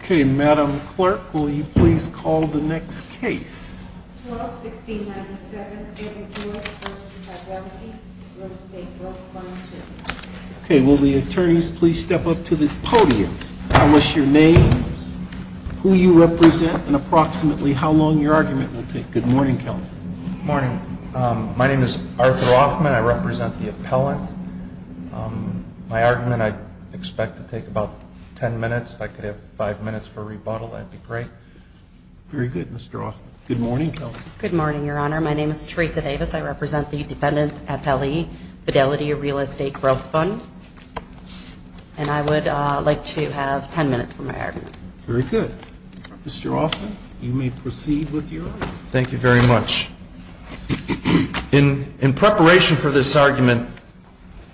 Okay, Madam Clerk, will you please call the next case? 12-1697 A. M. Hewitt v. Fidelity Real Estate Growth Fund II Okay, will the attorneys please step up to the podium. Tell us your names, who you represent, and approximately how long your argument will take. Good morning, Counselor. Good morning. My name is Arthur Hoffman. I represent the appellant. My argument, I expect to take about ten minutes. If I could have five minutes for rebuttal, that would be great. Very good, Mr. Hoffman. Good morning, Counselor. Good morning, Your Honor. My name is Teresa Davis. I represent the defendant at F.L.E., Fidelity Real Estate Growth Fund. And I would like to have ten minutes for my argument. Very good. Mr. Hoffman, you may proceed with your argument. Thank you very much. In preparation for this argument,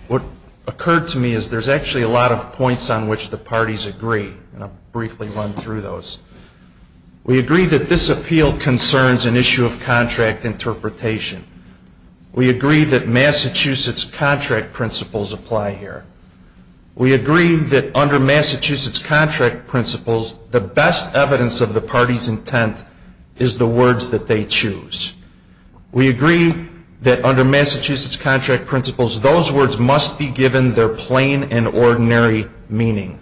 what occurred to me is there's actually a lot of points on which the parties agree. And I'll briefly run through those. We agree that this appeal concerns an issue of contract interpretation. We agree that Massachusetts contract principles apply here. We agree that under Massachusetts contract principles, the best evidence of the party's intent is the words that they choose. We agree that under Massachusetts contract principles, those words must be given their plain and ordinary meaning.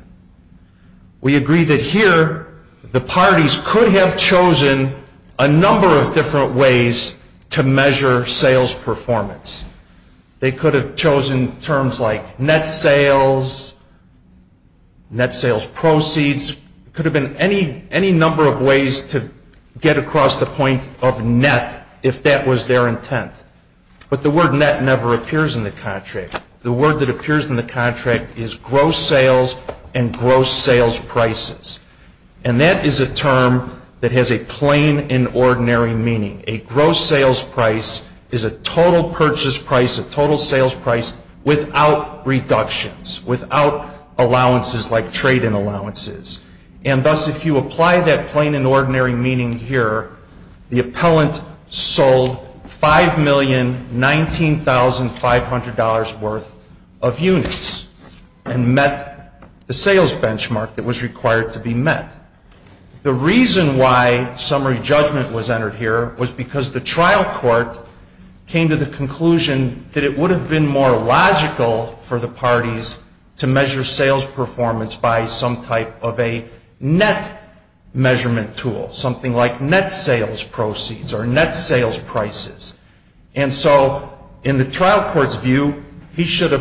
We agree that here, the parties could have chosen a number of different ways to measure sales performance. They could have chosen terms like net sales, net sales proceeds. There could have been any number of ways to get across the point of net if that was their intent. But the word net never appears in the contract. The word that appears in the contract is gross sales and gross sales prices. And that is a term that has a plain and ordinary meaning. A gross sales price is a total purchase price, a total sales price without reductions, without allowances like trade-in allowances. And thus, if you apply that plain and ordinary meaning here, the appellant sold $5,019,500 worth of units and met the sales benchmark that was required to be met. The reason why summary judgment was entered here was because the trial court came to the conclusion that it would have been more logical for the parties to measure sales performance by some type of a net measurement tool, something like net sales proceeds or net sales prices. And so in the trial court's view, he should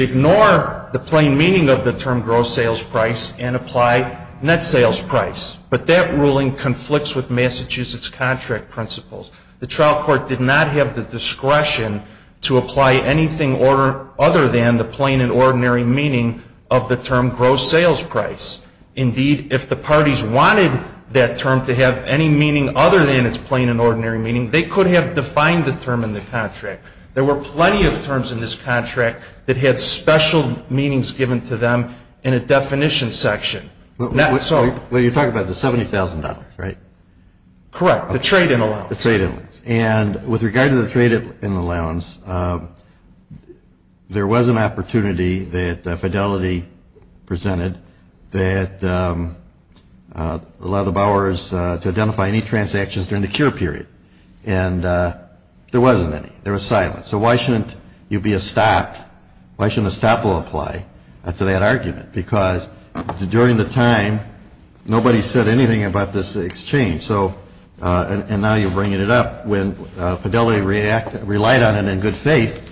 ignore the plain meaning of the term gross sales price and apply net sales price. But that ruling conflicts with Massachusetts contract principles. The trial court did not have the discretion to apply anything other than the plain and ordinary meaning of the term gross sales price. Indeed, if the parties wanted that term to have any meaning other than its plain and ordinary meaning, they could have defined the term in the contract. There were plenty of terms in this contract that had special meanings given to them in a definition section. Well, you're talking about the $70,000, right? Correct, the trade-in allowance. The trade-in allowance. And with regard to the trade-in allowance, there was an opportunity that Fidelity presented that allowed the borrowers to identify any transactions during the cure period. And there wasn't any. There was silence. So why shouldn't you be a stop? Why shouldn't a stop be applied to that argument? Because during the time, nobody said anything about this exchange. And now you're bringing it up when Fidelity relied on it in good faith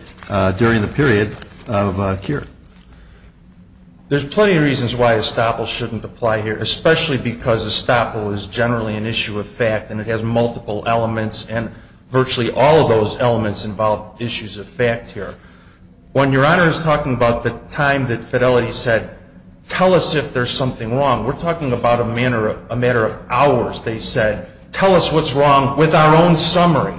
during the period of cure. There's plenty of reasons why a stopple shouldn't apply here, especially because a stopple is generally an issue of fact and it has multiple elements, and virtually all of those elements involve issues of fact here. When Your Honor is talking about the time that Fidelity said, tell us if there's something wrong, we're talking about a matter of hours. They said, tell us what's wrong with our own summary.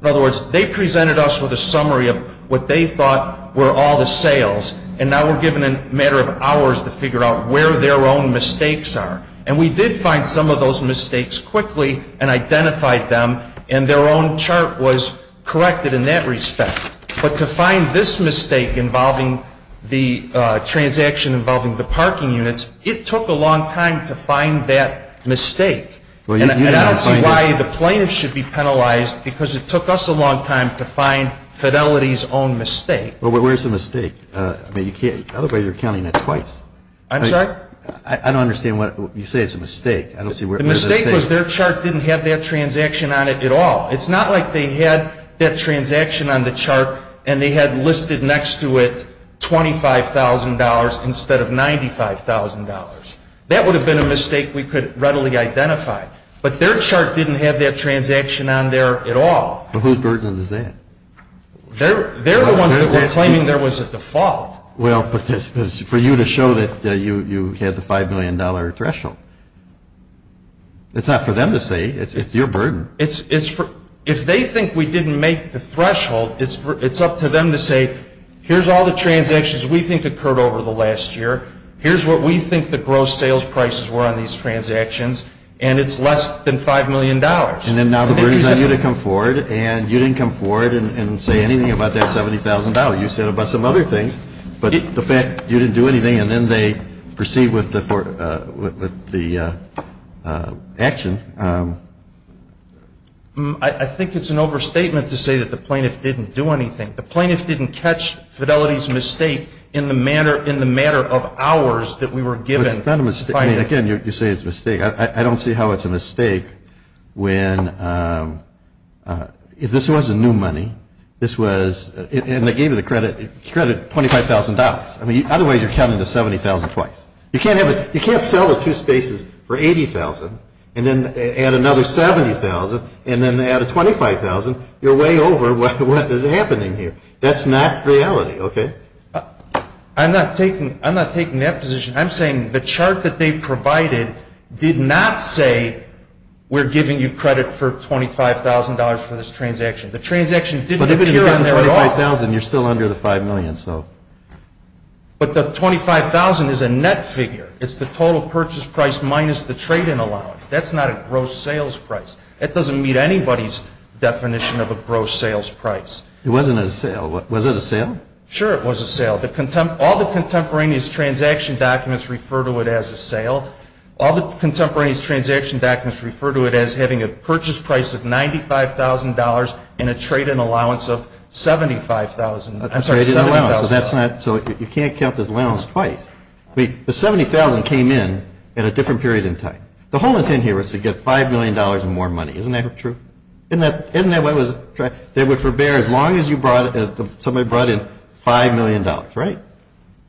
In other words, they presented us with a summary of what they thought were all the sales, and now we're given a matter of hours to figure out where their own mistakes are. And we did find some of those mistakes quickly and identified them, and their own chart was corrected in that respect. But to find this mistake involving the transaction involving the parking units, it took a long time to find that mistake. And I don't see why the plaintiff should be penalized, because it took us a long time to find Fidelity's own mistake. Well, where's the mistake? I mean, you can't, otherwise you're counting it twice. I'm sorry? I don't understand what, you say it's a mistake. The mistake was their chart didn't have that transaction on it at all. It's not like they had that transaction on the chart, and they had listed next to it $25,000 instead of $95,000. That would have been a mistake we could readily identify. But their chart didn't have that transaction on there at all. But whose burden is that? They're the ones that were claiming there was a default. Well, but for you to show that you had the $5 million threshold. It's not for them to say. It's your burden. If they think we didn't make the threshold, it's up to them to say, here's all the transactions we think occurred over the last year. Here's what we think the gross sales prices were on these transactions, and it's less than $5 million. And then now it brings on you to come forward, and you didn't come forward and say anything about that $70,000. You said about some other things. But the fact you didn't do anything, and then they proceed with the action. I think it's an overstatement to say that the plaintiff didn't do anything. The plaintiff didn't catch Fidelity's mistake in the matter of hours that we were given. Again, you say it's a mistake. I don't see how it's a mistake when this wasn't new money. This was, and they gave you the credit, $25,000. I mean, otherwise you're counting the $70,000 twice. You can't sell the two spaces for $80,000 and then add another $70,000 and then add a $25,000, you're way over what is happening here. That's not reality. I'm not taking that position. I'm saying the chart that they provided did not say we're giving you credit for $25,000 for this transaction. The transaction didn't appear on there at all. But if you get the $25,000, you're still under the $5 million. But the $25,000 is a net figure. It's the total purchase price minus the trade-in allowance. That's not a gross sales price. That doesn't meet anybody's definition of a gross sales price. It wasn't a sale. Was it a sale? Sure, it was a sale. All the contemporaneous transaction documents refer to it as a sale. All the contemporaneous transaction documents refer to it as having a purchase price of $95,000 and a trade-in allowance of $75,000. I'm sorry, $70,000. A trade-in allowance. So you can't count the allowance twice. The $70,000 came in at a different period in time. The whole intent here was to get $5 million and more money. Isn't that true? Isn't that what was tried? They would forbear as long as you brought it, somebody brought in $5 million, right?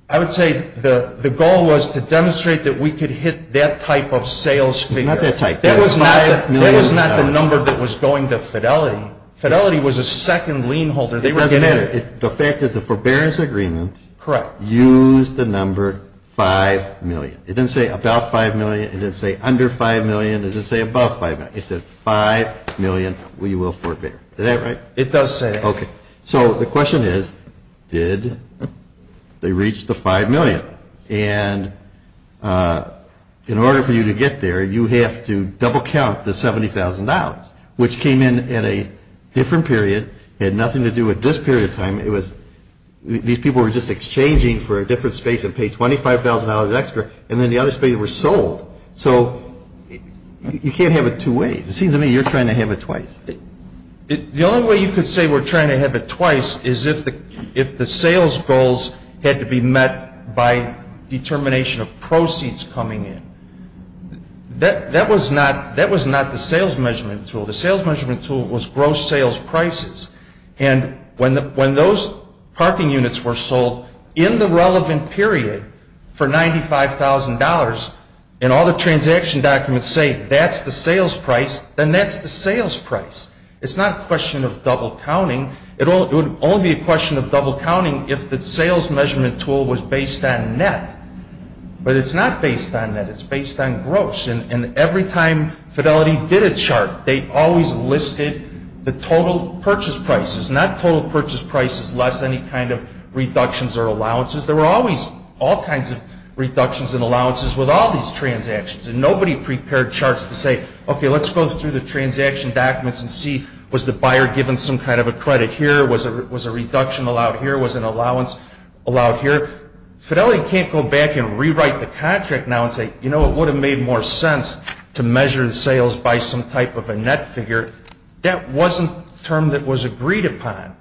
I would say the goal was to demonstrate that we could hit that type of sales figure. Not that type. $5 million. That was not the number that was going to Fidelity. Fidelity was a second lien holder. It doesn't matter. The fact is the forbearance agreement used the number $5 million. It didn't say about $5 million. It didn't say under $5 million. It didn't say above $5 million. It said $5 million we will forbear. Is that right? It does say that. Okay. So the question is, did they reach the $5 million? And in order for you to get there, you have to double-count the $70,000, which came in at a different period. It had nothing to do with this period of time. These people were just exchanging for a different space and paid $25,000 extra, and then the other spaces were sold. So you can't have it two ways. It seems to me you're trying to have it twice. The only way you could say we're trying to have it twice is if the sales goals had to be met by determination of proceeds coming in. That was not the sales measurement tool. The sales measurement tool was gross sales prices. And when those parking units were sold in the relevant period for $95,000 and all the transaction documents say that's the sales price, then that's the sales price. It's not a question of double-counting. It would only be a question of double-counting if the sales measurement tool was based on net. But it's not based on net. It's based on gross. And every time Fidelity did a chart, they always listed the total purchase prices. Not total purchase prices, less any kind of reductions or allowances. There were always all kinds of reductions and allowances with all these transactions. And nobody prepared charts to say, okay, let's go through the transaction documents and see was the buyer given some kind of a credit here? Was a reduction allowed here? Was an allowance allowed here? Fidelity can't go back and rewrite the contract now and say, you know, it would have made more sense to measure the sales by some type of a net figure. That wasn't a term that was agreed upon.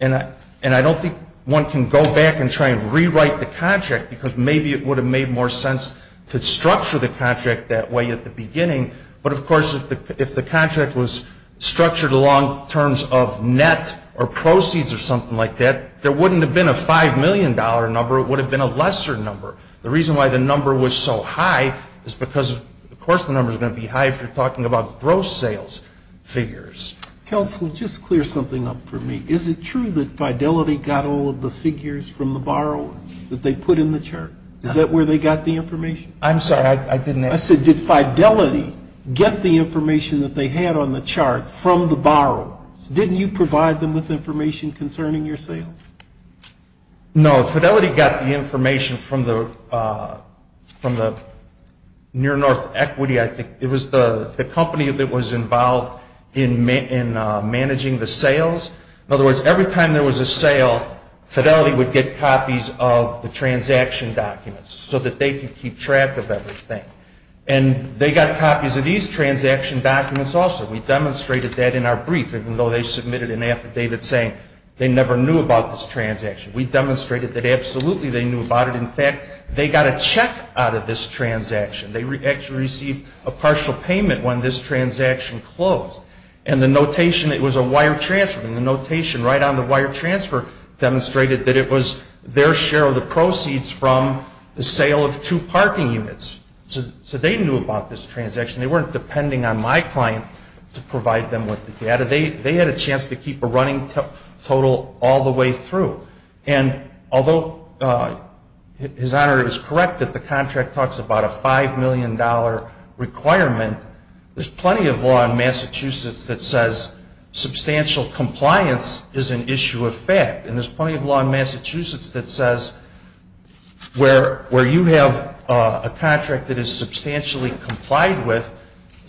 And I don't think one can go back and try and rewrite the contract because maybe it would have made more sense to structure the contract that way at the beginning. But, of course, if the contract was structured along terms of net or proceeds or something like that, there wouldn't have been a $5 million number. It would have been a lesser number. The reason why the number was so high is because, of course, the number is going to be high if you're talking about gross sales figures. Counsel, just clear something up for me. Is it true that Fidelity got all of the figures from the borrowers that they put in the chart? Is that where they got the information? I'm sorry. I didn't ask. I said did Fidelity get the information that they had on the chart from the borrowers? Didn't you provide them with information concerning your sales? No. Fidelity got the information from the Near North Equity, I think. It was the company that was involved in managing the sales. In other words, every time there was a sale, Fidelity would get copies of the transaction documents so that they could keep track of everything. And they got copies of these transaction documents also. We demonstrated that in our brief, even though they submitted an affidavit saying they never knew about this transaction. We demonstrated that absolutely they knew about it. In fact, they got a check out of this transaction. They actually received a partial payment when this transaction closed. And the notation, it was a wire transfer, and the notation right on the wire transfer demonstrated that it was their share of the proceeds from the sale of two parking units. So they knew about this transaction. They weren't depending on my client to provide them with the data. They had a chance to keep a running total all the way through. And although His Honor is correct that the contract talks about a $5 million requirement, there's plenty of law in Massachusetts that says substantial compliance is an issue of fact. And there's plenty of law in Massachusetts that says where you have a contract that is substantially complied with,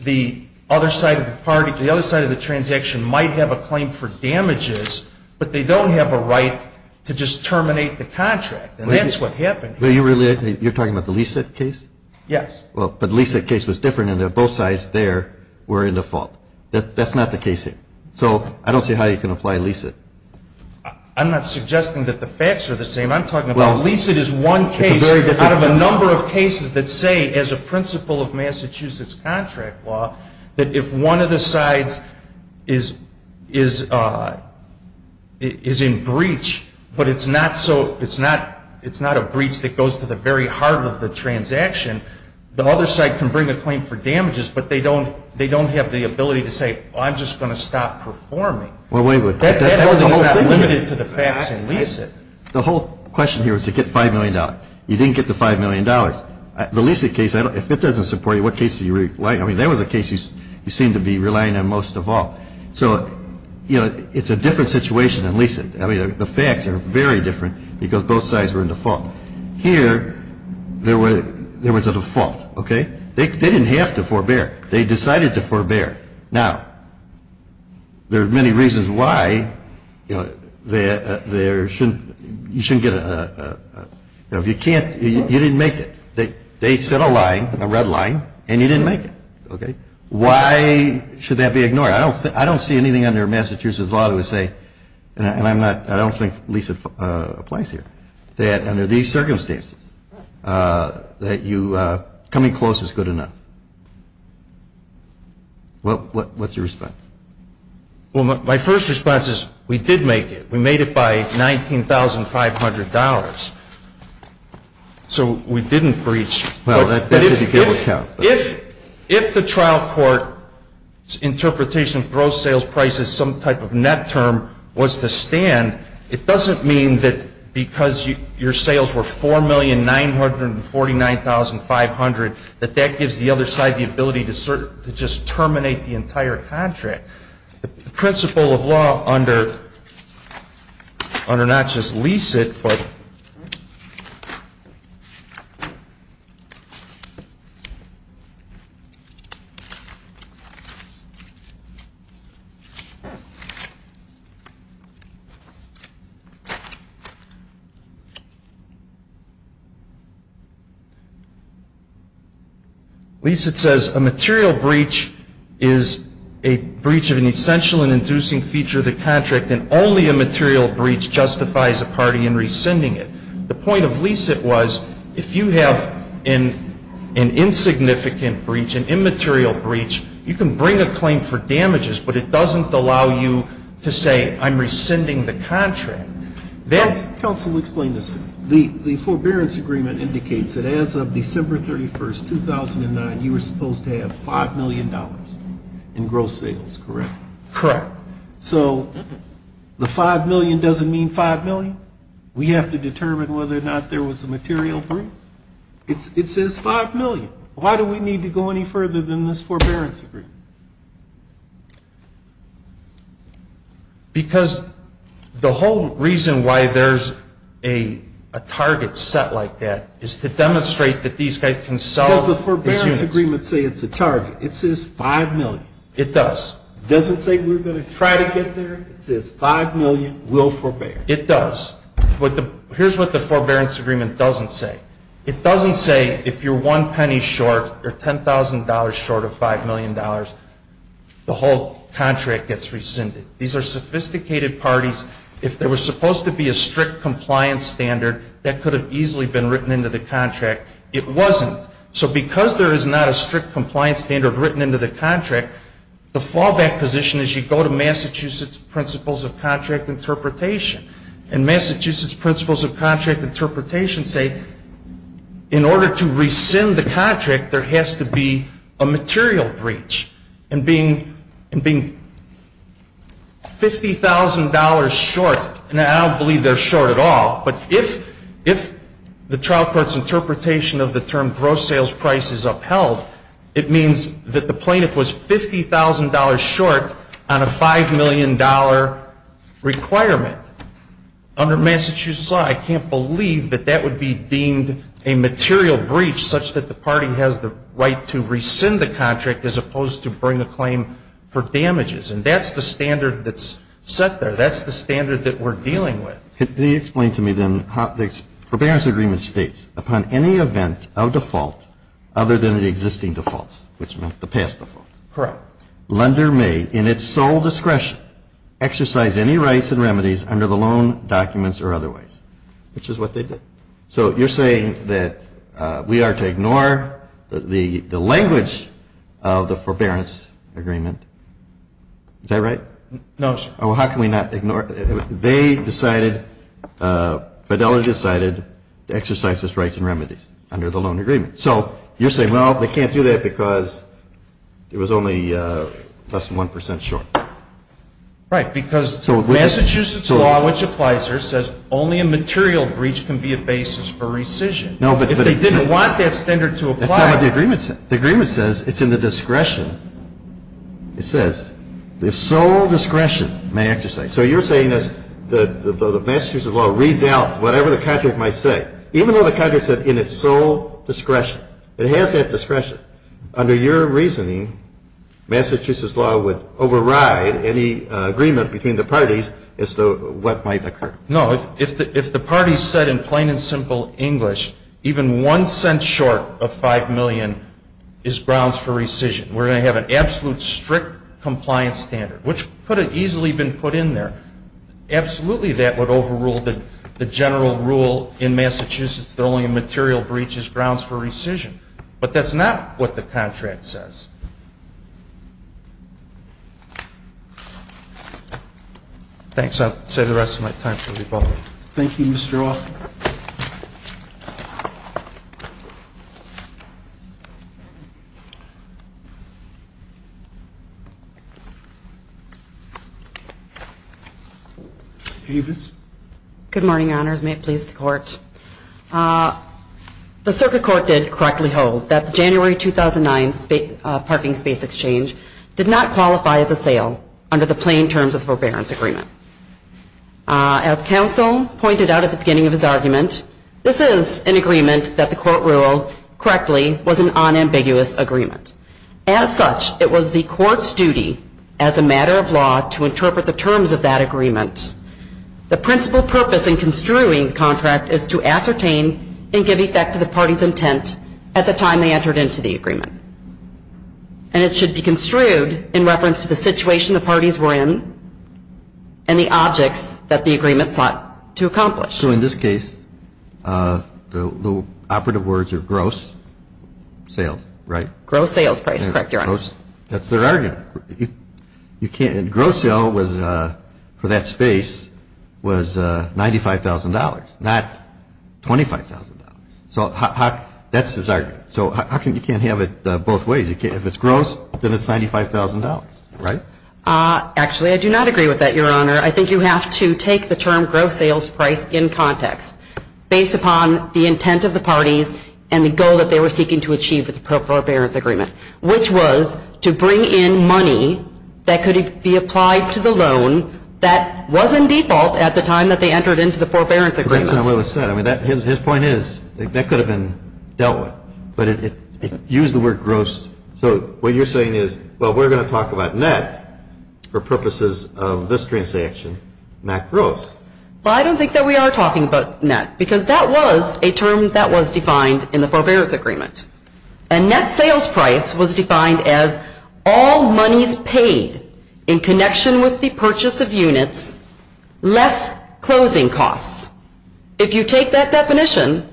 the other side of the party, the other side of the transaction might have a claim for damages, but they don't have a right to just terminate the contract. And that's what happened here. You're talking about the LESIT case? Yes. But the LESIT case was different in that both sides there were in default. That's not the case here. So I don't see how you can apply LESIT. I'm not suggesting that the facts are the same. I'm talking about LESIT is one case out of a number of cases that say, as a principle of Massachusetts contract law, that if one of the sides is in breach, but it's not a breach that goes to the very heart of the transaction, the other side can bring a claim for damages, but they don't have the ability to say, I'm just going to stop performing. Well, wait a minute. That's not limited to the facts in LESIT. The whole question here is to get $5 million. You didn't get the $5 million. The LESIT case, if it doesn't support you, what case are you relying on? I mean, that was a case you seemed to be relying on most of all. So, you know, it's a different situation in LESIT. I mean, the facts are very different because both sides were in default. Here, there was a default. Okay? They didn't have to forbear. They decided to forbear. Now, there are many reasons why, you know, you shouldn't get a, you know, if you can't, you didn't make it. They set a line, a red line, and you didn't make it. Okay? Why should that be ignored? I don't see anything under Massachusetts law that would say, and I don't think LESIT applies here, that under these circumstances, that you coming close is good enough. What's your response? Well, my first response is we did make it. We made it by $19,500. So, we didn't breach. Well, that's if you can't account. If the trial court's interpretation of gross sales prices, some type of net term, was to stand, it doesn't mean that because your sales were $4,949,500, that that gives the other side the ability to just terminate the entire contract. The principle of law under not just LESIT, but LESIT says a material breach is a breach of an essential and inducing feature of the contract, and only a material breach justifies a party in rescinding it. The point of LESIT was if you have an insignificant breach, an immaterial breach, you can bring a claim for damages, but it doesn't allow you to say I'm rescinding the contract. Counsel, explain this to me. The forbearance agreement indicates that as of December 31, 2009, you were supposed to have $5 million in gross sales, correct? Correct. So, the $5 million doesn't mean $5 million? We have to determine whether or not there was a material breach? It says $5 million. Why do we need to go any further than this forbearance agreement? Because the whole reason why there's a target set like that is to demonstrate that these guys can sell. Does the forbearance agreement say it's a target? It says $5 million. It does. Does it say we're going to try to get there? It says $5 million, we'll forbear. It does. Here's what the forbearance agreement doesn't say. It doesn't say if you're one penny short or $10,000 short of $5 million, the whole contract gets rescinded. These are sophisticated parties. If there was supposed to be a strict compliance standard, that could have easily been written into the contract. It wasn't. So, because there is not a strict compliance standard written into the contract, the fallback position is you go to Massachusetts Principles of Contract Interpretation, and Massachusetts Principles of Contract Interpretation say in order to rescind the contract, there has to be a material breach. And being $50,000 short, and I don't believe they're short at all, but if the trial court's interpretation of the term gross sales price is upheld, it means that the plaintiff was $50,000 short on a $5 million requirement. Under Massachusetts law, I can't believe that that would be deemed a material breach such that the party has the right to rescind the contract as opposed to bring a claim for damages. And that's the standard that's set there. That's the standard that we're dealing with. Can you explain to me then how the forbearance agreement states, upon any event of default other than the existing defaults, which meant the past defaults. Correct. Lender may, in its sole discretion, exercise any rights and remedies under the loan documents or otherwise, which is what they did. So you're saying that we are to ignore the language of the forbearance agreement. Is that right? No, sir. Well, how can we not ignore it? They decided, Fidelity decided to exercise its rights and remedies under the loan agreement. So you're saying, well, they can't do that because it was only less than 1% short. Right, because Massachusetts law, which applies here, says only a material breach can be a basis for rescission. If they didn't want that standard to apply. That's not what the agreement says. The agreement says it's in the discretion. It says the sole discretion may exercise. So you're saying that the Massachusetts law reads out whatever the contract might say, even though the contract said in its sole discretion. It has that discretion. Under your reasoning, Massachusetts law would override any agreement between the parties as to what might occur. No, if the parties said in plain and simple English, even 1 cent short of 5 million is grounds for rescission. We're going to have an absolute strict compliance standard, which could have easily been put in there. Absolutely that would overrule the general rule in Massachusetts that only a material breach is grounds for rescission. But that's not what the contract says. Thanks. I'll save the rest of my time for rebuttal. Thank you, Mr. Offit. Avis. Good morning, Your Honors. May it please the Court. The circuit court did correctly hold that the January 2009 parking space exchange did not qualify as a sale under the plain terms of the forbearance agreement. As counsel pointed out at the beginning of his argument, this is an agreement that the Court ruled correctly was an unambiguous agreement. As such, it was the Court's duty as a matter of law to interpret the terms of that agreement. The principal purpose in construing the contract is to ascertain and give effect to the parties' intent at the time they entered into the agreement. And it should be construed in reference to the situation the parties were in and the objects that the agreement sought to accomplish. So in this case, the operative words are gross sales, right? Gross sales price, correct, Your Honor. That's their argument. Gross sale for that space was $95,000, not $25,000. That's his argument. So you can't have it both ways. If it's gross, then it's $95,000, right? Actually, I do not agree with that, Your Honor. I think you have to take the term gross sales price in context based upon the intent of the parties and the goal that they were seeking to achieve with the forbearance agreement, which was to bring in money that could be applied to the loan that was in default at the time that they entered into the forbearance agreement. His point is that could have been dealt with, but it used the word gross. So what you're saying is, well, we're going to talk about net for purposes of this transaction, not gross. Well, I don't think that we are talking about net because that was a term that was defined in the forbearance agreement. A net sales price was defined as all monies paid in connection with the purchase of units, less closing costs. If you take that definition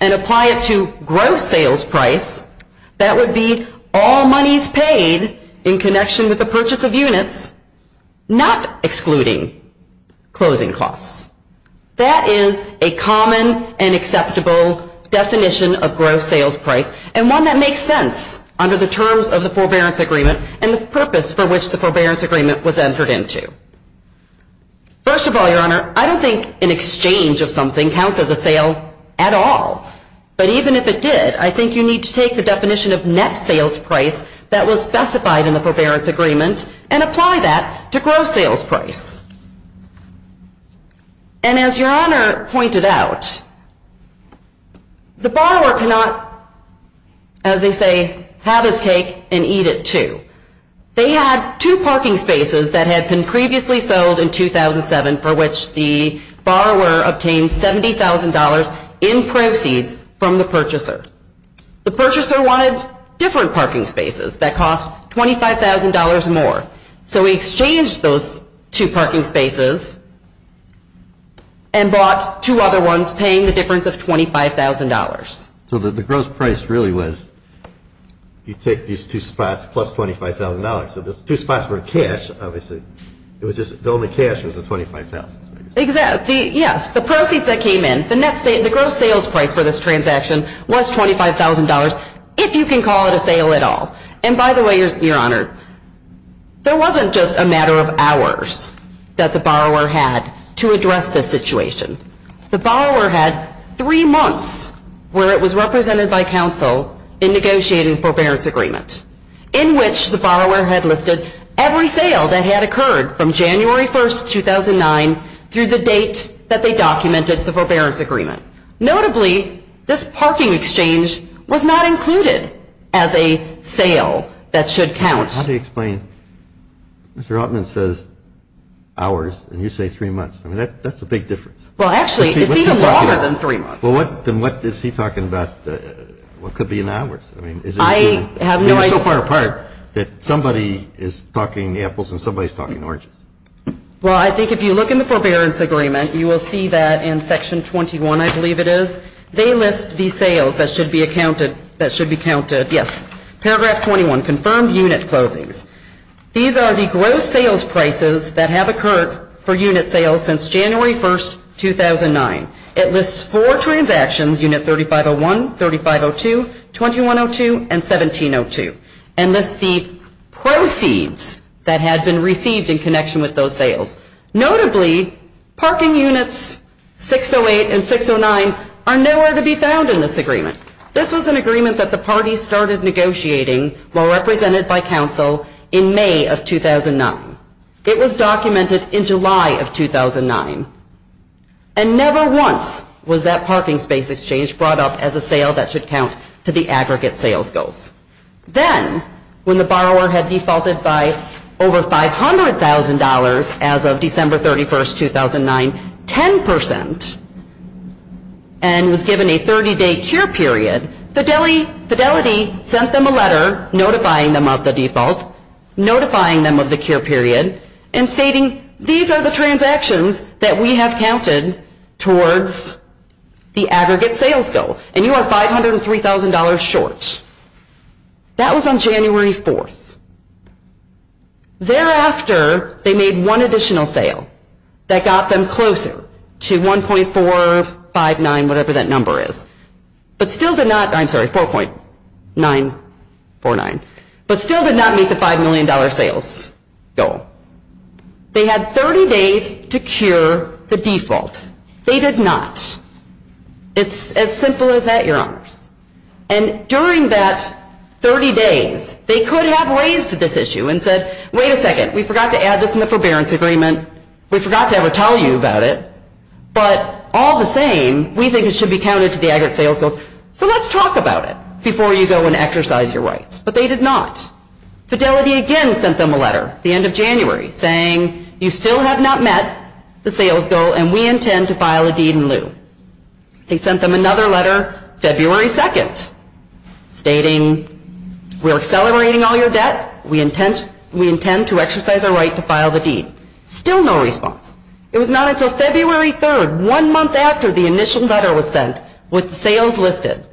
and apply it to gross sales price, that would be all monies paid in connection with the purchase of units, not excluding closing costs. That is a common and acceptable definition of gross sales price and one that makes sense under the terms of the forbearance agreement and the purpose for which the forbearance agreement was entered into. First of all, Your Honor, I don't think an exchange of something counts as a sale at all. But even if it did, I think you need to take the definition of net sales price that was specified in the forbearance agreement and apply that to gross sales price. And as Your Honor pointed out, the borrower cannot, as they say, have his cake and eat it too. They had two parking spaces that had been previously sold in 2007 for which the borrower obtained $70,000 in proceeds from the purchaser. The purchaser wanted different parking spaces that cost $25,000 more. So he exchanged those two parking spaces and bought two other ones paying the difference of $25,000. So the gross price really was you take these two spots plus $25,000. So the two spots were in cash, obviously. The only cash was the $25,000. Yes, the proceeds that came in, the gross sales price for this transaction was $25,000 if you can call it a sale at all. And by the way, Your Honor, there wasn't just a matter of hours that the borrower had to address this situation. The borrower had three months where it was represented by counsel in negotiating the forbearance agreement in which the borrower had listed every sale that had occurred from January 1, 2009 through the date that they documented the forbearance agreement. Notably, this parking exchange was not included as a sale that should count. How do you explain Mr. Altman says hours and you say three months? I mean, that's a big difference. Well, actually, it's even longer than three months. Well, then what is he talking about what could be in hours? I mean, is it so far apart that somebody is talking apples and somebody is talking oranges? Well, I think if you look in the forbearance agreement, you will see that in Section 21, I believe it is, they list the sales that should be counted, yes. Paragraph 21, confirmed unit closings. These are the gross sales prices that have occurred for unit sales since January 1, 2009. It lists four transactions, Unit 3501, 3502, 2102, and 1702. And lists the proceeds that had been received in connection with those sales. Notably, parking units 608 and 609 are nowhere to be found in this agreement. This was an agreement that the parties started negotiating while represented by counsel in May of 2009. It was documented in July of 2009. And never once was that parking space exchange brought up as a sale that should count to the aggregate sales goals. Then, when the borrower had defaulted by over $500,000 as of December 31, 2009, 10% and was given a 30-day cure period, Fidelity sent them a letter notifying them of the default, notifying them of the cure period, and stating these are the transactions that we have counted towards the aggregate sales goal. And you are $503,000 short. That was on January 4th. Thereafter, they made one additional sale that got them closer to 1.459, whatever that number is. But still did not, I'm sorry, 4.949. But still did not meet the $5 million sales goal. They had 30 days to cure the default. They did not. It's as simple as that, Your Honors. And during that 30 days, they could have raised this issue and said, wait a second, we forgot to add this in the forbearance agreement. We forgot to ever tell you about it. But all the same, we think it should be counted to the aggregate sales goals. So let's talk about it before you go and exercise your rights. But they did not. Fidelity again sent them a letter the end of January saying, you still have not met the sales goal, and we intend to file a deed in lieu. They sent them another letter February 2nd stating, we're accelerating all your debt. We intend to exercise our right to file the deed. Still no response. It was not until February 3rd, one month after the initial letter was sent, with the sales listed,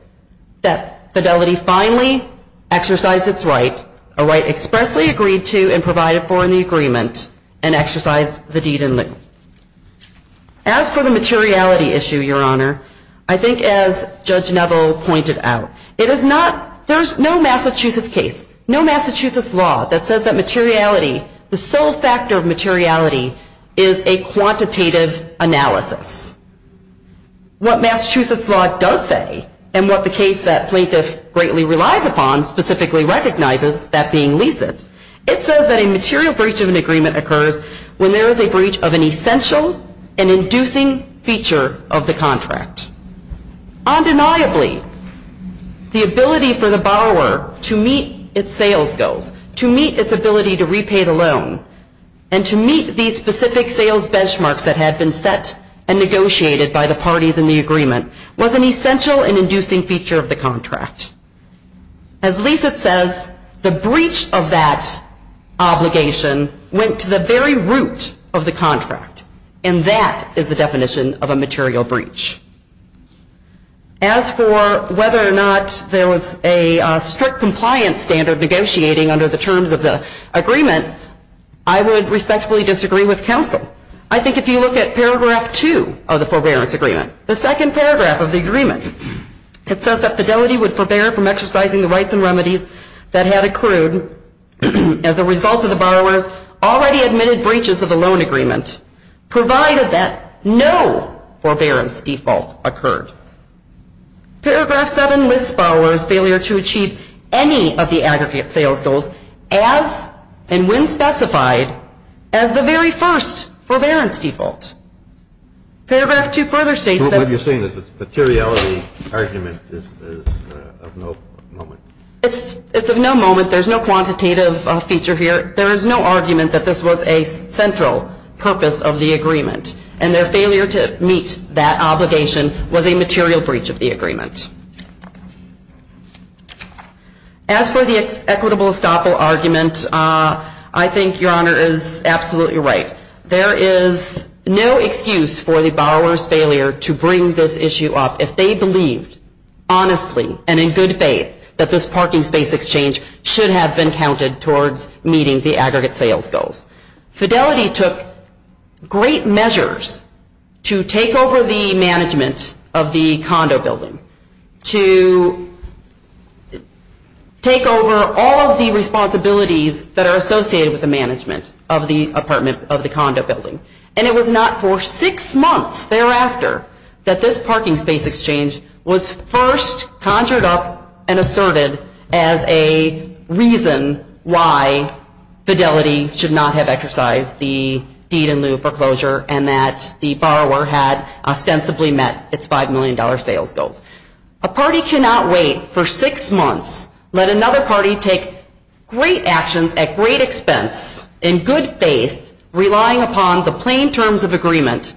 that Fidelity finally exercised its right, a right expressly agreed to and provided for in the agreement, and exercised the deed in lieu. As for the materiality issue, Your Honor, I think as Judge Neville pointed out, it is not, there is no Massachusetts case, no Massachusetts law that says that materiality, the sole factor of materiality is a quantitative analysis. What Massachusetts law does say, and what the case that plaintiff greatly relies upon specifically recognizes, that being leased, it says that a material breach of an agreement occurs when there is a breach of an essential and inducing feature of the contract. Undeniably, the ability for the borrower to meet its sales goals, to meet its ability to repay the loan, and to meet these specific sales benchmarks that had been set and negotiated by the parties in the agreement, was an essential and inducing feature of the contract. As Leisit says, the breach of that obligation went to the very root of the contract, and that is the definition of a material breach. As for whether or not there was a strict compliance standard for negotiating under the terms of the agreement, I would respectfully disagree with counsel. I think if you look at paragraph 2 of the forbearance agreement, the second paragraph of the agreement, it says that fidelity would forbear from exercising the rights and remedies that had accrued as a result of the borrower's already admitted breaches of the loan agreement, provided that no forbearance default occurred. Paragraph 7 lists borrowers' failure to achieve any of the aggregate sales goals as and when specified as the very first forbearance default. Paragraph 2 further states that... What you're saying is that the materiality argument is of no moment. It's of no moment. There's no quantitative feature here. There is no argument that this was a central purpose of the agreement, and their failure to meet that obligation was a material breach of the agreement. As for the equitable estoppel argument, I think Your Honor is absolutely right. There is no excuse for the borrower's failure to bring this issue up if they believed honestly and in good faith that this parking space exchange should have been counted towards meeting the aggregate sales goals. Fidelity took great measures to take over the management of the condo building, to take over all of the responsibilities that are associated with the management of the condo building, and it was not for six months thereafter that this parking space exchange was first conjured up and asserted as a reason why Fidelity should not have exercised the deed in lieu foreclosure and that the borrower had ostensibly met its $5 million sales goals. A party cannot wait for six months, let another party take great actions at great expense, in good faith, relying upon the plain terms of agreement,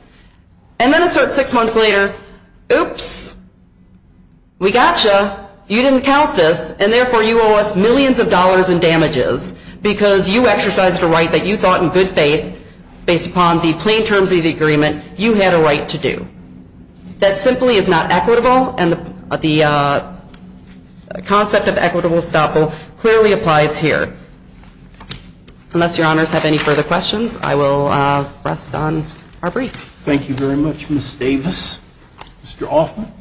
and then assert six months later, oops, we got you, you didn't count this, and therefore you owe us millions of dollars in damages because you exercised a right that you thought in good faith, based upon the plain terms of the agreement, you had a right to do. That simply is not equitable, and the concept of equitable estoppel clearly applies here. Unless your honors have any further questions, I will rest on our brief. Thank you very much, Ms. Davis. Mr. Hoffman.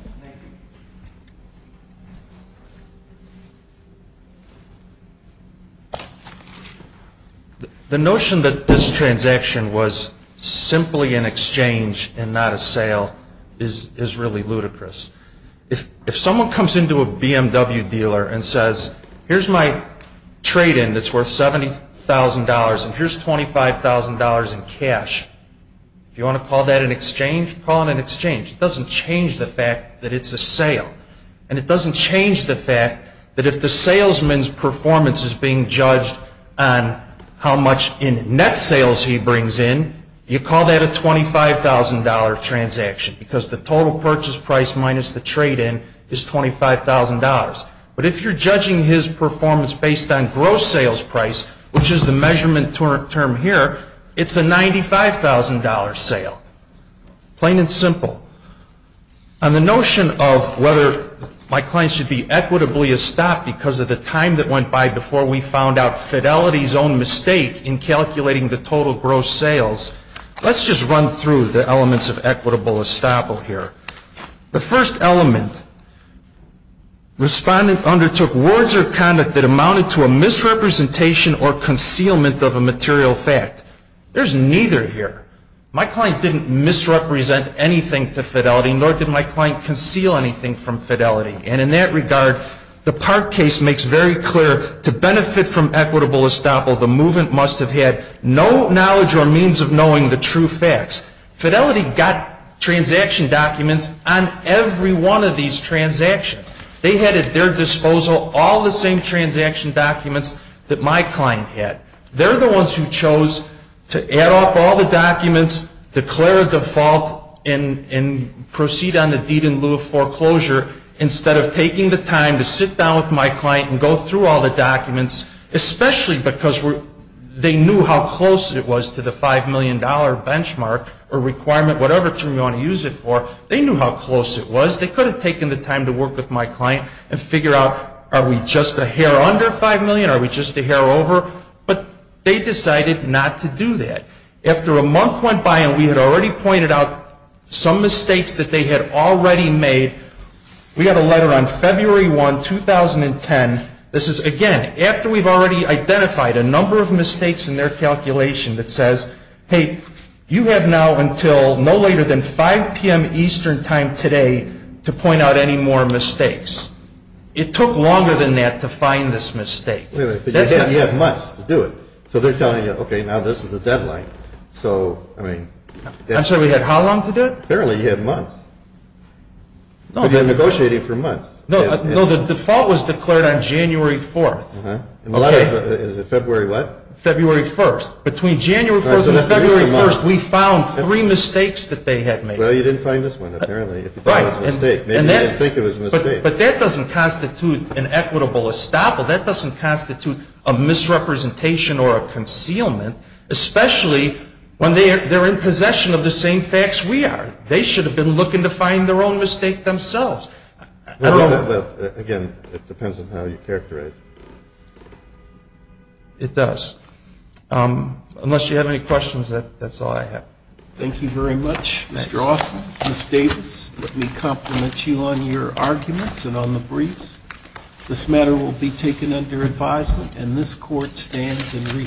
The notion that this transaction was simply an exchange and not a sale is really ludicrous. If someone comes into a BMW dealer and says, here's my trade-in that's worth $70,000 and here's $25,000 in cash, if you want to call that an exchange, call it an exchange. It doesn't change the fact that it's a sale, and it doesn't change the fact that if the salesman's performance is being judged on how much in net sales he brings in, you call that a $25,000 transaction because the total purchase price minus the trade-in is $25,000. But if you're judging his performance based on gross sales price, which is the measurement term here, it's a $95,000 sale, plain and simple. And the notion of whether my client should be equitably estopped because of the time that went by before we found out Fidelity's own mistake in calculating the total gross sales, let's just run through the elements of equitable estoppel here. The first element, respondent undertook words or conduct that amounted to a misrepresentation or concealment of a material fact. There's neither here. My client didn't misrepresent anything to Fidelity, nor did my client conceal anything from Fidelity. And in that regard, the Park case makes very clear to benefit from equitable estoppel, the movant must have had no knowledge or means of knowing the true facts. Fidelity got transaction documents on every one of these transactions. They had at their disposal all the same transaction documents that my client had. They're the ones who chose to add up all the documents, declare a default, and proceed on the deed in lieu of foreclosure instead of taking the time to sit down with my client and go through all the documents, especially because they knew how close it was to the $5 million benchmark or requirement, whatever term you want to use it for. They knew how close it was. They could have taken the time to work with my client and figure out, are we just a hair under $5 million? Are we just a hair over? But they decided not to do that. After a month went by and we had already pointed out some mistakes that they had already made, we got a letter on February 1, 2010. This is, again, after we've already identified a number of mistakes in their calculation that says, hey, you have now until no later than 5 p.m. Eastern time today to point out any more mistakes. It took longer than that to find this mistake. You have months to do it. So they're telling you, okay, now this is the deadline. I'm sorry, we had how long to do it? Apparently you had months. You've been negotiating for months. No, the default was declared on January 4. The letter is February what? February 1. Between January 1 and February 1, we found three mistakes that they had made. Well, you didn't find this one, apparently. If you thought it was a mistake, maybe you didn't think it was a mistake. But that doesn't constitute an equitable estoppel. That doesn't constitute a misrepresentation or a concealment, especially when they're in possession of the same facts we are. They should have been looking to find their own mistake themselves. Again, it depends on how you characterize it. It does. Unless you have any questions, that's all I have. Thank you very much, Mr. Hoffman. Ms. Davis, let me compliment you on your arguments and on the briefs. This matter will be taken under advisement, and this court stands in recess.